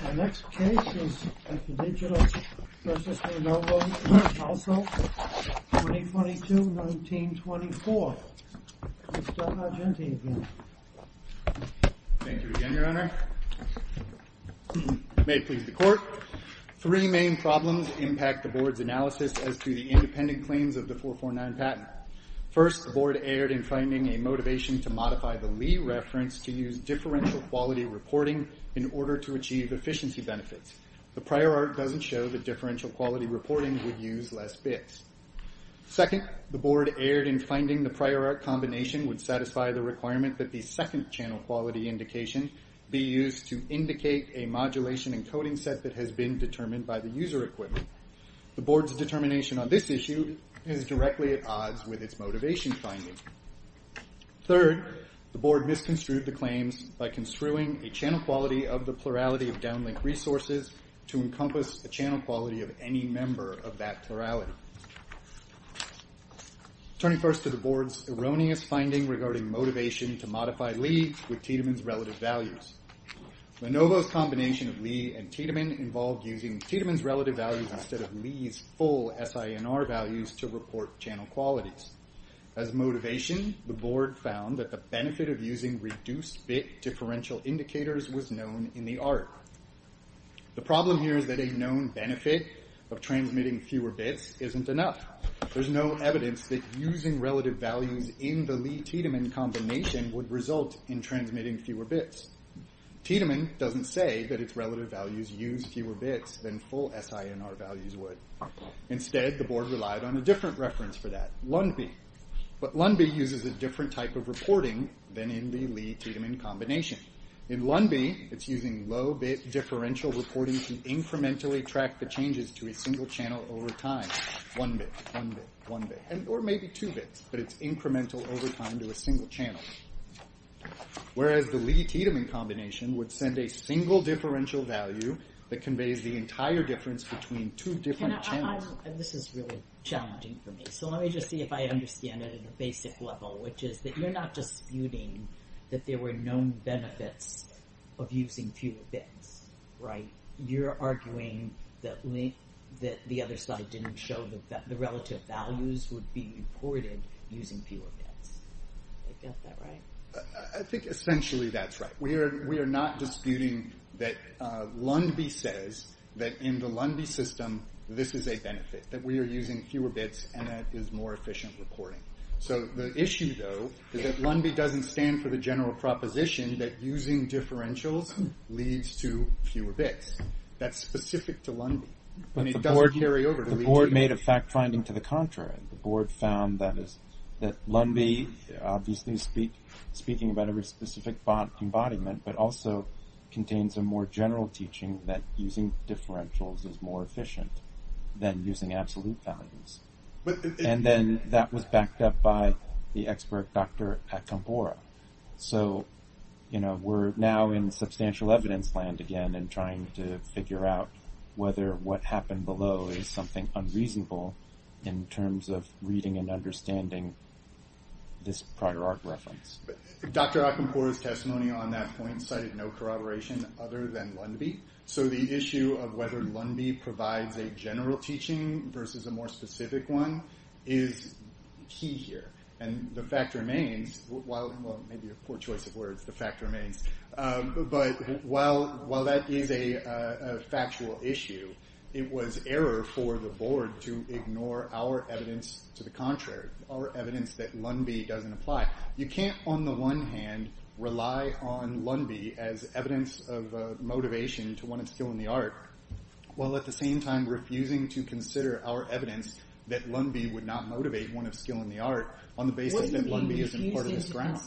The next case is at the Digital versus Lenovo Household, 2022-1924. Mr. Argenti again. Thank you again, Your Honor. May it please the Court. Three main problems impact the Board's analysis as to the independent claims of the 449 patent. First, the Board erred in finding a motivation to modify the Lee reference to use differential quality reporting in order to achieve efficiency benefits. The prior art doesn't show that differential quality reporting would use less bits. Second, the Board erred in finding the prior art combination would satisfy the requirement that the second channel quality indication be used to indicate a modulation encoding set that has been determined by the user equipment. The Board's determination on this issue is directly at odds with its motivation finding. Third, the Board misconstrued the claims by construing a channel quality of the plurality of downlink resources to encompass the channel quality of any member of that plurality. Turning first to the Board's erroneous finding regarding motivation to modify Lee with Tiedemann's relative values. Lenovo's combination of Lee and Tiedemann involved using Tiedemann's relative values instead of Lee's full SINR values to report channel qualities. As motivation, the Board found that the benefit of using reduced bit differential indicators was known in the art. The problem here is that a known benefit of transmitting fewer bits isn't enough. There's no evidence that using relative values in the Lee-Tiedemann combination would result in transmitting fewer bits. Tiedemann doesn't say that its relative values use fewer bits than full SINR values would. Instead, the Board relied on a different reference for that, LUNB. But LUNB uses a different type of reporting than in the Lee-Tiedemann combination. In LUNB, it's using low bit differential reporting to incrementally track the changes to a single channel over time. One bit, one bit, one bit, or maybe two bits, but it's incremental over time to a single channel. Whereas the Lee-Tiedemann combination would send a single differential value that conveys the entire difference between two different channels. This is really challenging for me. So let me just see if I understand it at a basic level, which is that you're not disputing that there were known benefits of using fewer bits, right? You're arguing that the other side didn't show that the relative values would be reported using fewer bits. Did I get that right? I think essentially that's right. We are not disputing that LUNB says that in the LUNB system, this is a benefit, that we are using fewer bits and that is more efficient reporting. So the issue, though, is that LUNB doesn't stand for the general proposition that using differentials leads to fewer bits. That's specific to LUNB, and it doesn't carry over to Lee-Tiedemann. The Board made a fact-finding to the contrary. The Board found that LUNB, obviously speaking about every specific embodiment, but also contains a more general teaching that using differentials is more efficient than using absolute values. And then that was backed up by the expert, Dr. Akambora. So we're now in substantial evidence land again and trying to figure out whether what happened below is something unreasonable in terms of reading and understanding this prior art reference. Dr. Akambora's testimony on that point cited no corroboration other than LUNB. So the issue of whether LUNB provides a general teaching versus a more specific one is key here. And the fact remains, while maybe a poor choice of words, the fact remains, but while that is a factual issue, it was error for the Board to ignore our evidence to the contrary, our evidence that LUNB doesn't apply. You can't, on the one hand, rely on LUNB as evidence of motivation to one of skill in the art while at the same time refusing to consider our evidence that LUNB would not motivate one of skill in the art on the basis that LUNB isn't part of this ground.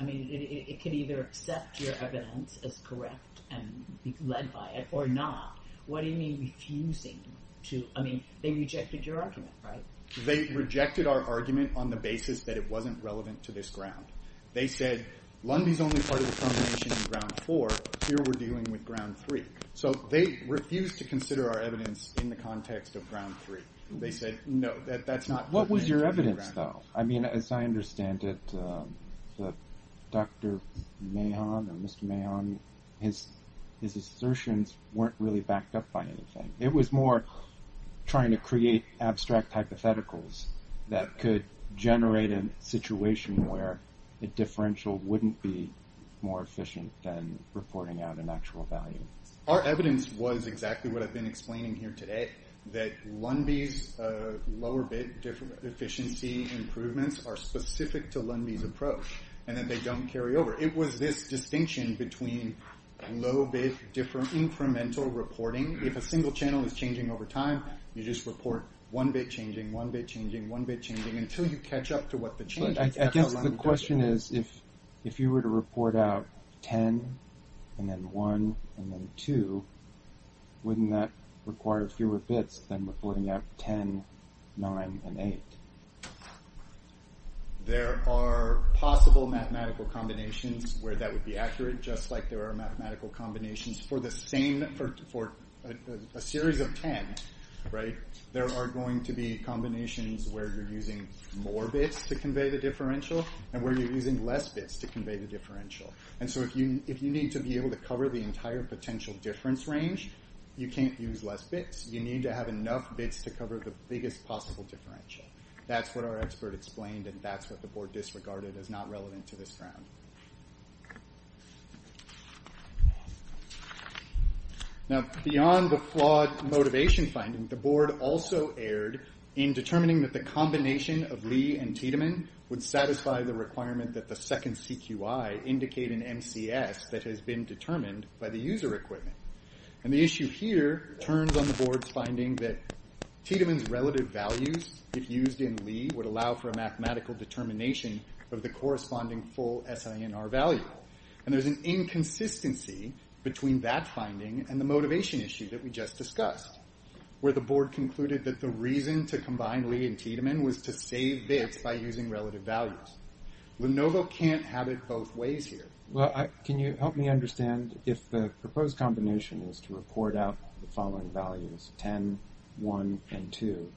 I mean, it could either accept your evidence as correct and be led by it or not. What do you mean refusing to, I mean, they rejected your argument, right? They rejected our argument on the basis that it wasn't relevant to this ground. They said, LUNB's only part of the combination in ground four. Here we're dealing with ground three. So they refused to consider our evidence in the context of ground three. They said, no, that's not. What was your evidence, though? I mean, as I understand it, Dr. Mahon or Mr. Mahon, his assertions weren't really backed up by anything. It was more trying to create abstract hypotheticals that could generate a situation where a differential wouldn't be more efficient than reporting out an actual value. Our evidence was exactly what I've been explaining here today, that LUNB's lower bit efficiency improvements are specific to LUNB's approach and that they don't carry over. It was this distinction between low bit incremental reporting. If a single channel is changing over time, you just report one bit changing, one bit changing, one bit changing, until you catch up to what the change is. I guess the question is, if you were to report out ten and then one and then two, wouldn't that require fewer bits than reporting out ten, nine, and eight? There are possible mathematical combinations where that would be accurate, just like there are mathematical combinations for a series of ten. There are going to be combinations where you're using more bits to convey the differential and where you're using less bits to convey the differential. If you need to be able to cover the entire potential difference range, you can't use less bits. You need to have enough bits to cover the biggest possible differential. That's what our expert explained and that's what the board disregarded as not relevant to this round. Beyond the flawed motivation finding, the board also erred in determining that the combination of Lee and Tiedemann would satisfy the requirement that the second CQI indicate an MCS that has been determined by the user equipment. The issue here turns on the board's finding that Tiedemann's relative values, if used in Lee, would allow for a mathematical determination of the corresponding full SINR value. There's an inconsistency between that finding and the motivation issue that we just discussed, where the board concluded that the reason to combine Lee and Tiedemann was to save bits by using relative values. Lenovo can't have it both ways here. Can you help me understand if the proposed combination is to report out the following values, 10, 1, and 2,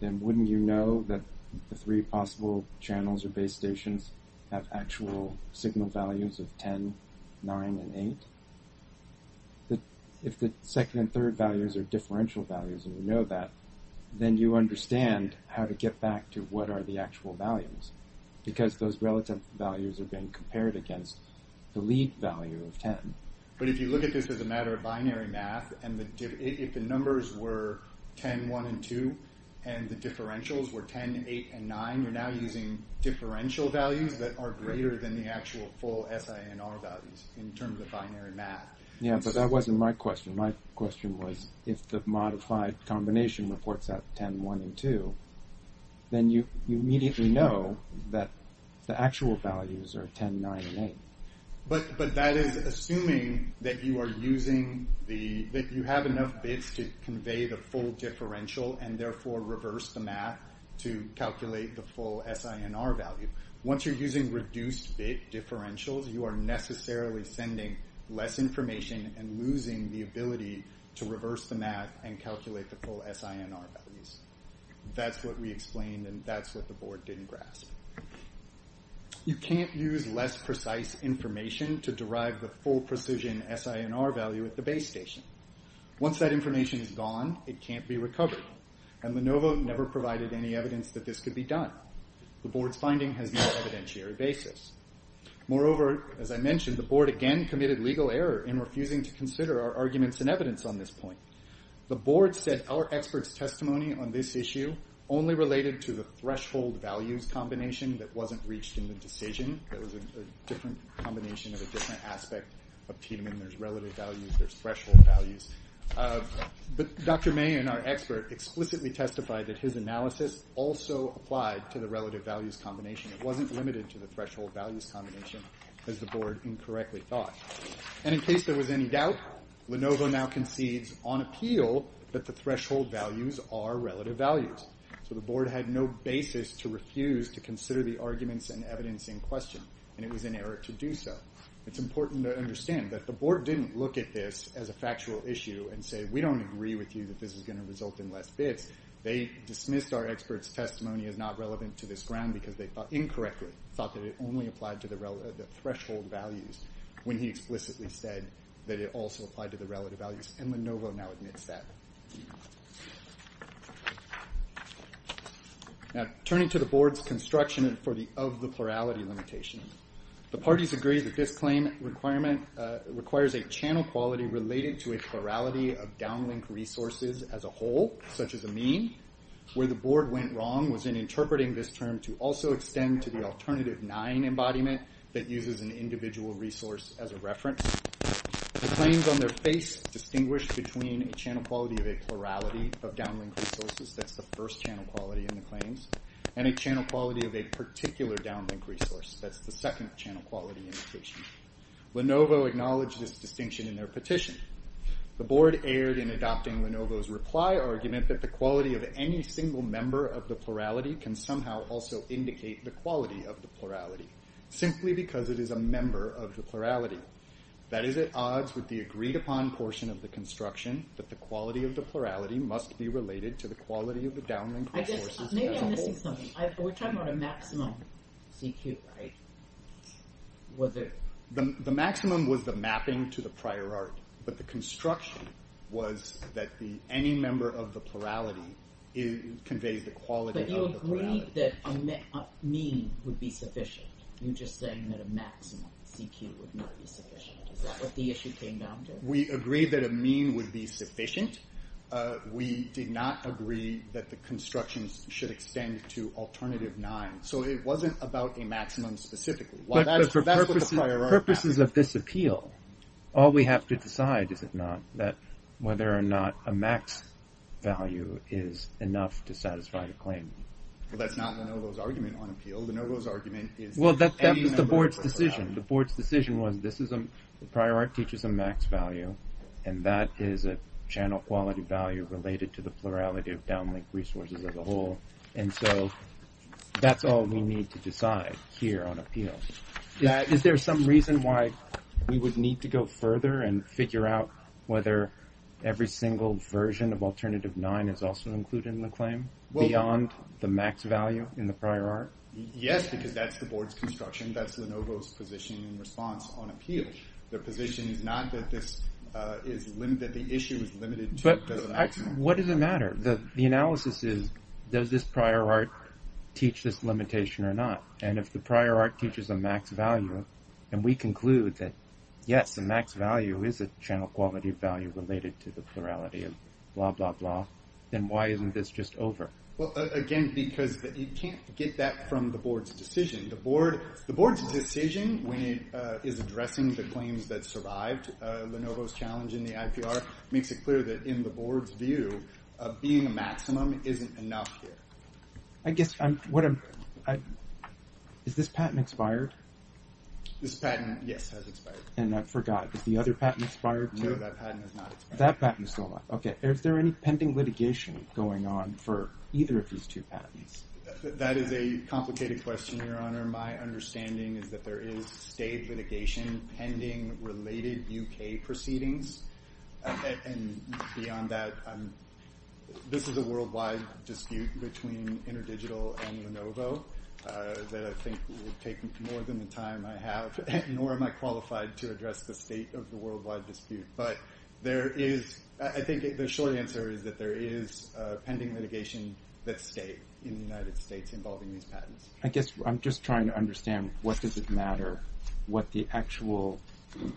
then wouldn't you know that the three possible channels or base stations have actual signal values of 10, 9, and 8? If the second and third values are differential values and you know that, then you understand how to get back to what are the actual values, because those relative values are being compared against the lead value of 10. But if you look at this as a matter of binary math, if the numbers were 10, 1, and 2, and the differentials were 10, 8, and 9, you're now using differential values that are greater than the actual full SINR values in terms of binary math. Yeah, but that wasn't my question. My question was if the modified combination reports out 10, 1, and 2, then you immediately know that the actual values are 10, 9, and 8. But that is assuming that you have enough bits to convey the full differential and therefore reverse the math to calculate the full SINR value. Once you're using reduced bit differentials, you are necessarily sending less information and losing the ability to reverse the math and calculate the full SINR values. That's what we explained, and that's what the board didn't grasp. You can't use less precise information to derive the full precision SINR value at the base station. Once that information is gone, it can't be recovered, and Lenovo never provided any evidence that this could be done. The board's finding has been an evidentiary basis. Moreover, as I mentioned, the board again committed legal error in refusing to consider our arguments and evidence on this point. The board said our expert's testimony on this issue only related to the threshold values combination that wasn't reached in the decision. That was a different combination of a different aspect of Tiedemann. There's relative values. There's threshold values. Dr. May and our expert explicitly testified that his analysis also applied to the relative values combination. It wasn't limited to the threshold values combination, as the board incorrectly thought. In case there was any doubt, Lenovo now concedes on appeal that the threshold values are relative values. The board had no basis to refuse to consider the arguments and evidence in question, and it was in error to do so. It's important to understand that the board didn't look at this as a factual issue and say, we don't agree with you that this is going to result in less bits. They dismissed our expert's testimony as not relevant to this ground because they incorrectly thought that it only applied to the threshold values when he explicitly said that it also applied to the relative values, and Lenovo now admits that. Now, turning to the board's construction of the plurality limitation, the parties agree that this claim requirement requires a channel quality related to a plurality of downlink resources as a whole, such as a mean. Where the board went wrong was in interpreting this term to also extend to the alternative nine embodiment that uses an individual resource as a reference. The claims on their face distinguish between a channel quality of a plurality of downlink resources, that's the first channel quality in the claims, and a channel quality of a particular downlink resource, that's the second channel quality indication. Lenovo acknowledged this distinction in their petition. The board erred in adopting Lenovo's reply argument that the quality of any single member of the plurality can somehow also indicate the quality of the plurality, simply because it is a member of the plurality. That is at odds with the agreed upon portion of the construction that the quality of the plurality must be related to the quality of the downlink resources as a whole. Maybe I'm missing something. We're talking about a maximum CQ, right? The maximum was the mapping to the prior art, but the construction was that any member of the plurality conveys the quality of the plurality. But you agreed that a mean would be sufficient. You're just saying that a maximum CQ would not be sufficient. Is that what the issue came down to? We agreed that a mean would be sufficient. We did not agree that the constructions should extend to alternative nine. So it wasn't about a maximum specifically. But for purposes of this appeal, all we have to decide is if not, that whether or not a max value is enough to satisfy the claim. Well, that's not Lenovo's argument on appeal. Lenovo's argument is that any member of the plurality... Well, that was the board's decision. The board's decision was the prior art teaches a max value, and that is a channel quality value related to the plurality of downlink resources as a whole. And so that's all we need to decide here on appeal. Is there some reason why we would need to go further and figure out whether every single version of alternative nine is also included in the claim beyond the max value in the prior art? Yes, because that's the board's construction. That's Lenovo's position in response on appeal. Their position is not that the issue is limited to the maximum. But what does it matter? The analysis is, does this prior art teach this limitation or not? And if the prior art teaches a max value, and we conclude that yes, the max value is a channel quality value related to the plurality of blah, blah, blah, then why isn't this just over? Well, again, because you can't get that from the board's decision. The board's decision when it is addressing the claims that survived Lenovo's challenge in the IPR makes it clear that in the board's view, being a maximum isn't enough here. I guess what I'm... Is this patent expired? This patent, yes, has expired. And I forgot, is the other patent expired? No, that patent is not expired. Okay, is there any pending litigation going on for either of these two patents? That is a complicated question, Your Honor. My understanding is that there is state litigation pending related UK proceedings. And beyond that, this is a worldwide dispute between InterDigital and Lenovo that I think would take more than the time I have, nor am I qualified to address the state of the worldwide dispute. But there is... I think the short answer is that there is pending litigation that's state in the United States involving these patents. I guess I'm just trying to understand what does it matter, what the actual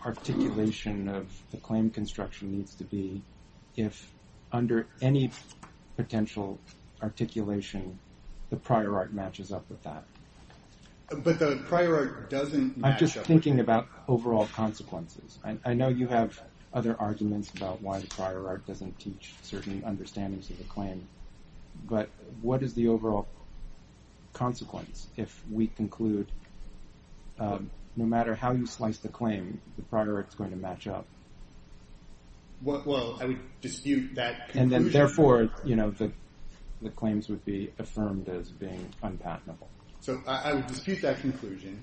articulation of the claim construction needs to be if under any potential articulation, the prior art matches up with that. But the prior art doesn't match up with... I'm just thinking about overall consequences. I know you have other arguments about why the prior art doesn't teach certain understandings of the claim. But what is the overall consequence if we conclude no matter how you slice the claim, the prior art is going to match up? Well, I would dispute that conclusion. And then therefore, you know, the claims would be affirmed as being unpatentable. So I would dispute that conclusion.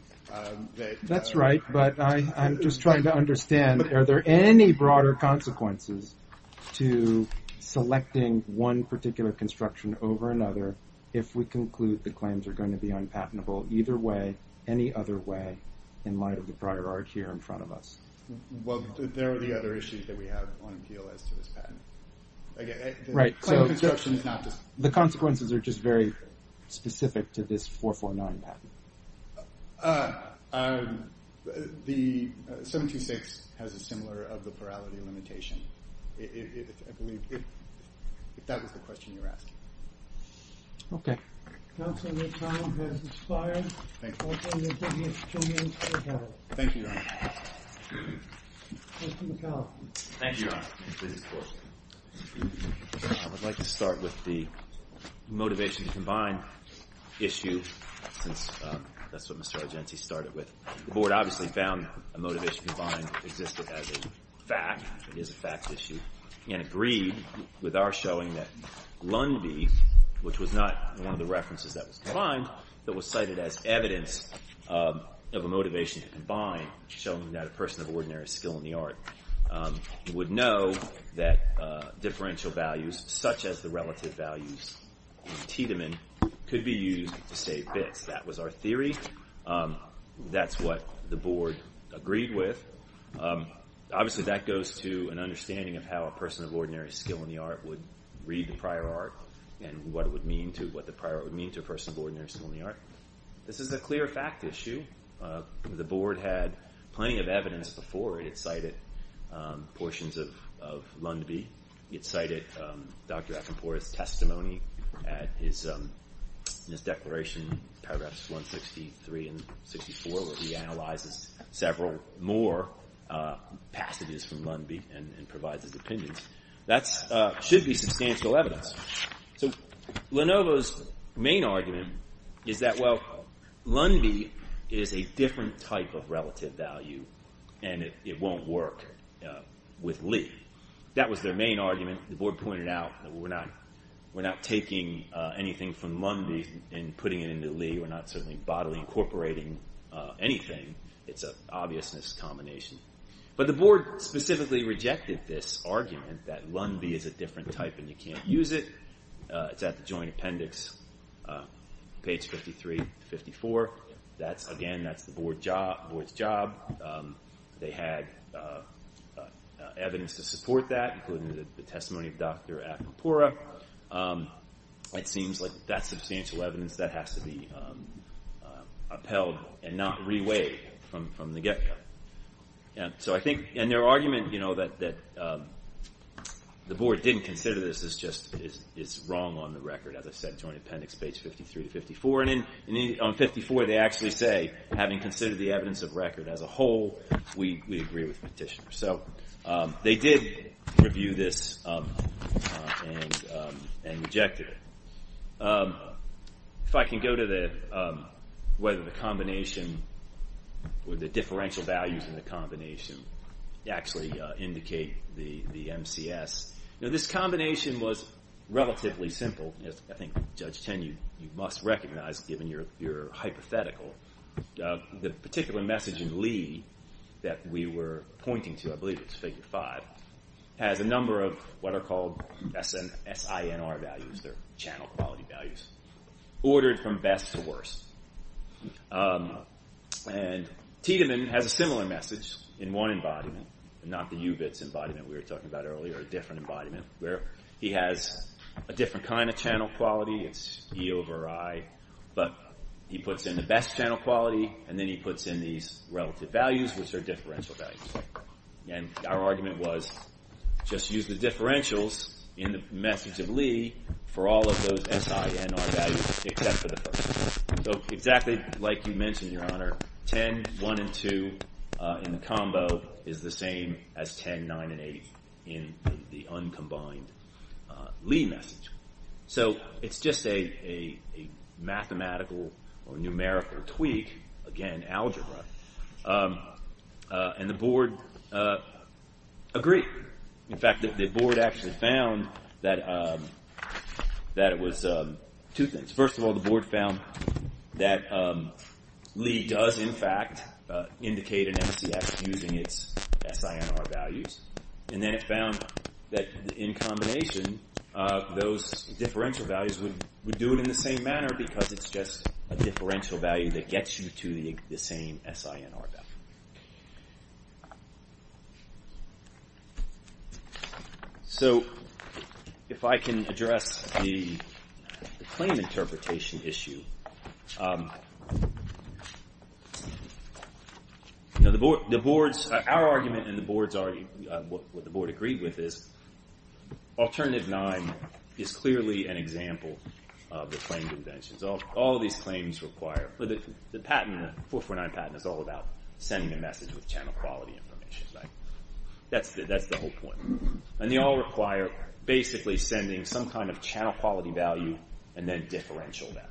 That's right, but I'm just trying to understand are there any broader consequences to selecting one particular construction over another if we conclude the claims are going to be unpatentable either way, any other way in light of the prior art here in front of us. Well, there are the other issues that we have on appeal as to this patent. Right, so the consequences are just very specific to this 449 patent. The 726 has a similar of the plurality limitation. If that was the question you're asking. Okay. Counsel, your time has expired. Thank you, Your Honor. Mr. McAllister. Thank you, Your Honor. I would like to start with the motivation to combine issue since that's what Mr. Argenti started with. The Board obviously found a motivation to combine existed as a fact. It is a fact issue and agreed with our showing that Lundby, which was not one of the references that was combined, that was cited as evidence of a motivation to combine showing that a person of ordinary skill in the art would know that differential values such as the relative values of Tiedemann could be used to say bits. That was our theory. That's what the Board agreed with. Obviously, that goes to an understanding of how a person of ordinary skill in the art would read the prior art and what the prior art would mean to a person of ordinary skill in the art. This is a clear fact issue. The Board had plenty of evidence before it. It cited portions of Lundby. It cited Dr. Acampora's testimony in his declaration, paragraphs 163 and 64, where he analyzes several more passages from Lundby and provides his opinions. That should be substantial evidence. Lenovo's main argument is that Lundby is a different type of relative value and it won't work with Lee. That was their main argument. The Board pointed out that we're not taking anything from Lundby and putting it into Lee. We're not bodily incorporating anything. It's an obviousness combination. But the Board specifically rejected this argument that Lundby is a different type and you can't use it. It's at the Joint Appendix, page 53 to 54. Again, that's the Board's job. They had evidence to support that, including the testimony of Dr. Acampora. It seems like that's substantial evidence that has to be upheld and not reweighed from the get-go. Their argument that the Board didn't consider this is wrong on the record, as I said, Joint Appendix, page 53 to 54. On page 54, they actually say, having considered the evidence of record as a whole, we agree with Petitioner. They did review this and rejected it. If I can go to whether the combination or the differential values in the combination actually indicate the MCS. This combination was relatively simple. I think, Judge Tenney, you must recognize, given your hypothetical, the particular message in Lee that we were pointing to, I believe it's Figure 5, has a number of what are called SINR values, they're channel quality values, ordered from best to worst. And Tiedemann has a similar message in one embodiment, not the UBITS embodiment we were talking about earlier, a different embodiment, where he has a different kind of channel quality, it's E over I, but he puts in the best channel quality and then he puts in these relative values, which are differential values. And our argument was, just use the differentials in the message of Lee for all of those SINR values, except for the first one. So exactly like you mentioned, Your Honor, 10, 1, and 2 in the combo is the same as 10, 9, and 8 in the uncombined Lee message. So it's just a mathematical or numerical tweak, again, algebra. And the board agreed. In fact, the board actually found that it was two things. First of all, the board found that Lee does, in fact, indicate an MCS using its SINR values. And then it found that in combination, those differential values would do it in the same manner because it's just a differential value that gets you to the same SINR value. So if I can address the claim interpretation issue. Our argument and what the board agreed with is Alternative 9 is clearly an example of the claimed inventions. The 449 patent is all about sending a message with channel quality information. That's the whole point. And they all require basically sending some kind of channel quality value and then differential values.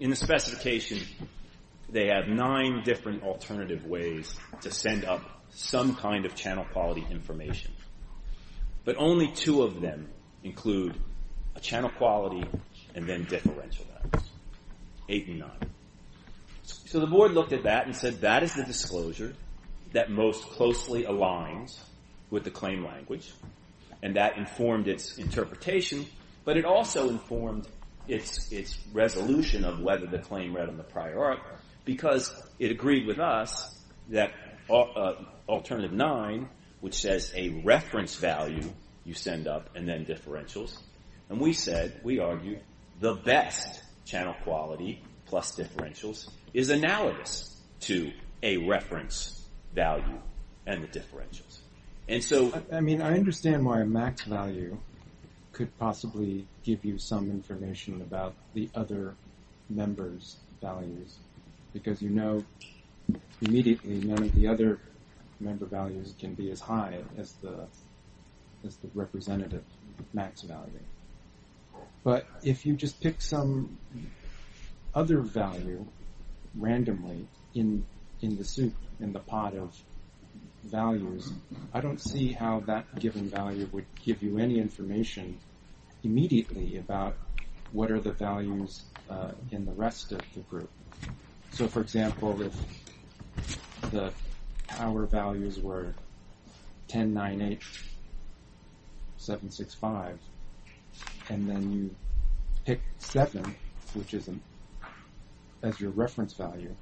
In the specification, they have nine different alternative ways to send up some kind of channel quality information. But only two of them include a channel quality and then differential values. Eight and nine. So the board looked at that and said, that is the disclosure that most closely aligns with the claim language. And that informed its interpretation. But it also informed its resolution of whether the claim read on the prior art because it agreed with us that Alternative 9, which says a reference value you send up and then differentials. And we said, we argued, the best channel quality plus differentials is analogous to a reference value and the differentials. I understand why a max value could possibly give you some information about the other members' values. Because you know immediately none of the other member values can be as high as the representative max value. But if you just pick some other value randomly in the soup, in the pot of values, I don't see how that given value would give you any information immediately about what are the values in the rest of the group. So for example, if the power values were 10, 9, 8, 7, 6, 5, and then you pick 7, which is as your reference value,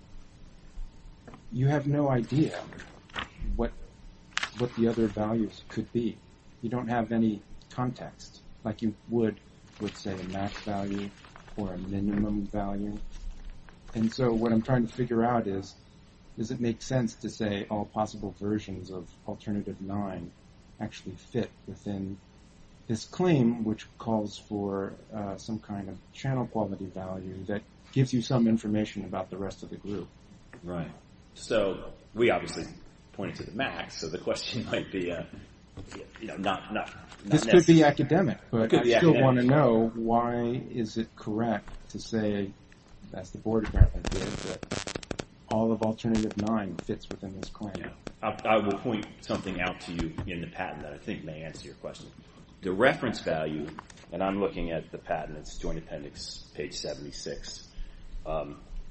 you have no idea what the other values could be. You don't have any context like you would with, say, a max value or a minimum value. And so what I'm trying to figure out is, does it make sense to say all possible versions of Alternative 9 actually fit within this claim, which calls for some kind of channel quality value that gives you some information about the rest of the group. So we obviously pointed to the max, so the question might be not necessary. This could be academic, but I still want to know why is it correct to say, as the Board of Governors did, that all of Alternative 9 fits within this claim. I will point something out to you in the patent that I think may answer your question. The reference value, and I'm looking at the patent, it's Joint Appendix, page 76.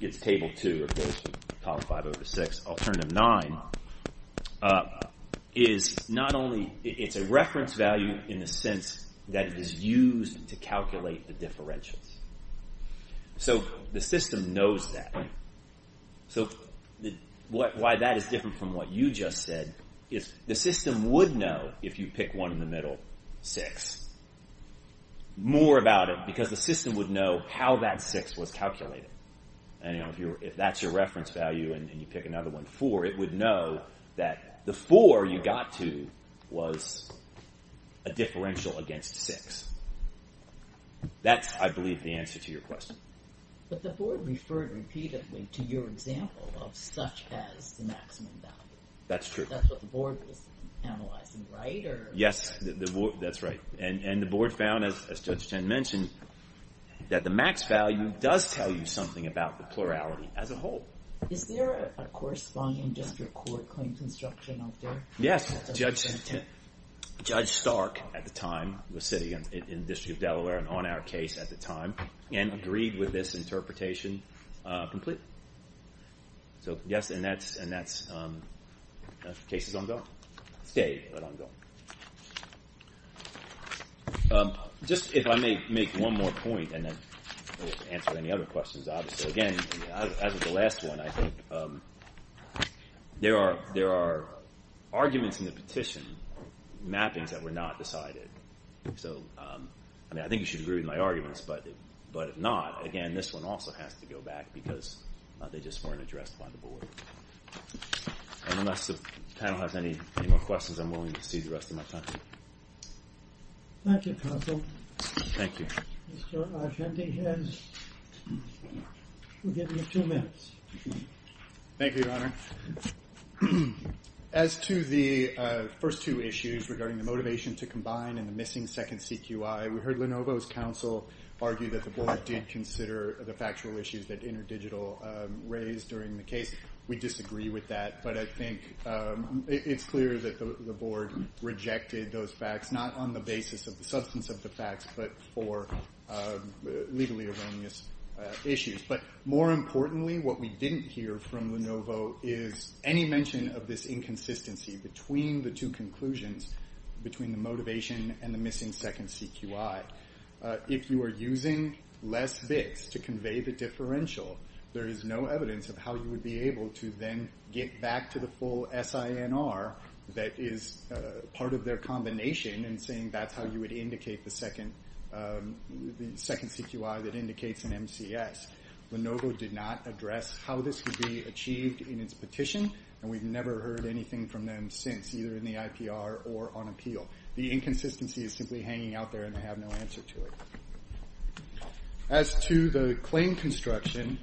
It's table 2 of those, column 5 over 6. Alternative 9 is not only, it's a reference value in the sense that it is used to calculate the differentials. So the system knows that. So why that is different from what you just said is the system would know if you pick one in the middle, 6. More about it, because the system would know how that 6 was calculated. And if that's your reference value and you pick another one, 4, it would know that the 4 you got to was a differential against 6. That's, I believe, the answer to your question. But the board referred repeatedly to your example of such as the maximum value. That's true. That's what the board was analyzing, right? Yes, that's right. And the board found, as Judge Ten mentioned, that the max value does tell you something about the plurality as a whole. Is there a corresponding district court claim construction out there? Yes, Judge Stark at the time was sitting in the District of Delaware and on our case at the time and agreed with this interpretation completely. So yes, and that case is ongoing. Stayed, but ongoing. Just if I may make one more point and then answer any other questions. Again, as of the last one, I think there are arguments in the petition, mappings that were not decided. So, I mean, I think you should agree with my arguments. But if not, again, this one also has to go back because they just weren't addressed by the board. Unless the panel has any more questions, I'm willing to cede the rest of my time. Thank you, counsel. Thank you. Mr. Argenti has two minutes. Thank you, Your Honor. As to the first two issues regarding the motivation to combine and the missing second CQI, we heard Lenovo's counsel argue that the board did consider the factual issues that InterDigital raised during the case. We disagree with that. But I think it's clear that the board rejected those facts, not on the basis of the substance of the facts, but for legally erroneous issues. But more importantly, what we didn't hear from Lenovo is any mention of this inconsistency between the two conclusions, between the motivation and the missing second CQI. If you are using less bits to convey the differential, there is no evidence of how you would be able to then get back to the full SINR that is part of their combination and saying that's how you would indicate the second CQI that indicates an MCS. Lenovo did not address how this could be achieved in its petition, and we've never heard anything from them since, either in the IPR or on appeal. The inconsistency is simply hanging out there, and they have no answer to it. As to the claim construction,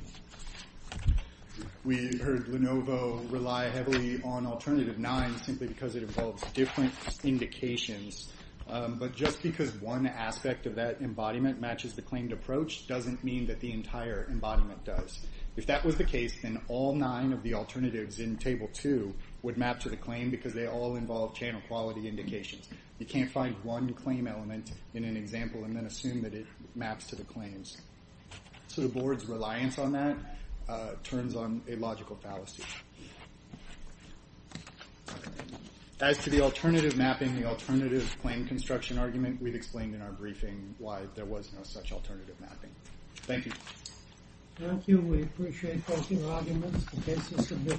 we heard Lenovo rely heavily on Alternative 9 simply because it involves different indications. But just because one aspect of that embodiment matches the claimed approach doesn't mean that the entire embodiment does. If that was the case, then all nine of the alternatives in Table 2 would map to the claim because they all involve channel quality indications. You can't find one claim element in an example and then assume that it maps to the claims. So the Board's reliance on that turns on a logical fallacy. As to the alternative mapping, the alternative claim construction argument, we've explained in our briefing why there was no such alternative mapping. Thank you. Thank you. We appreciate both your arguments. The case is submitted.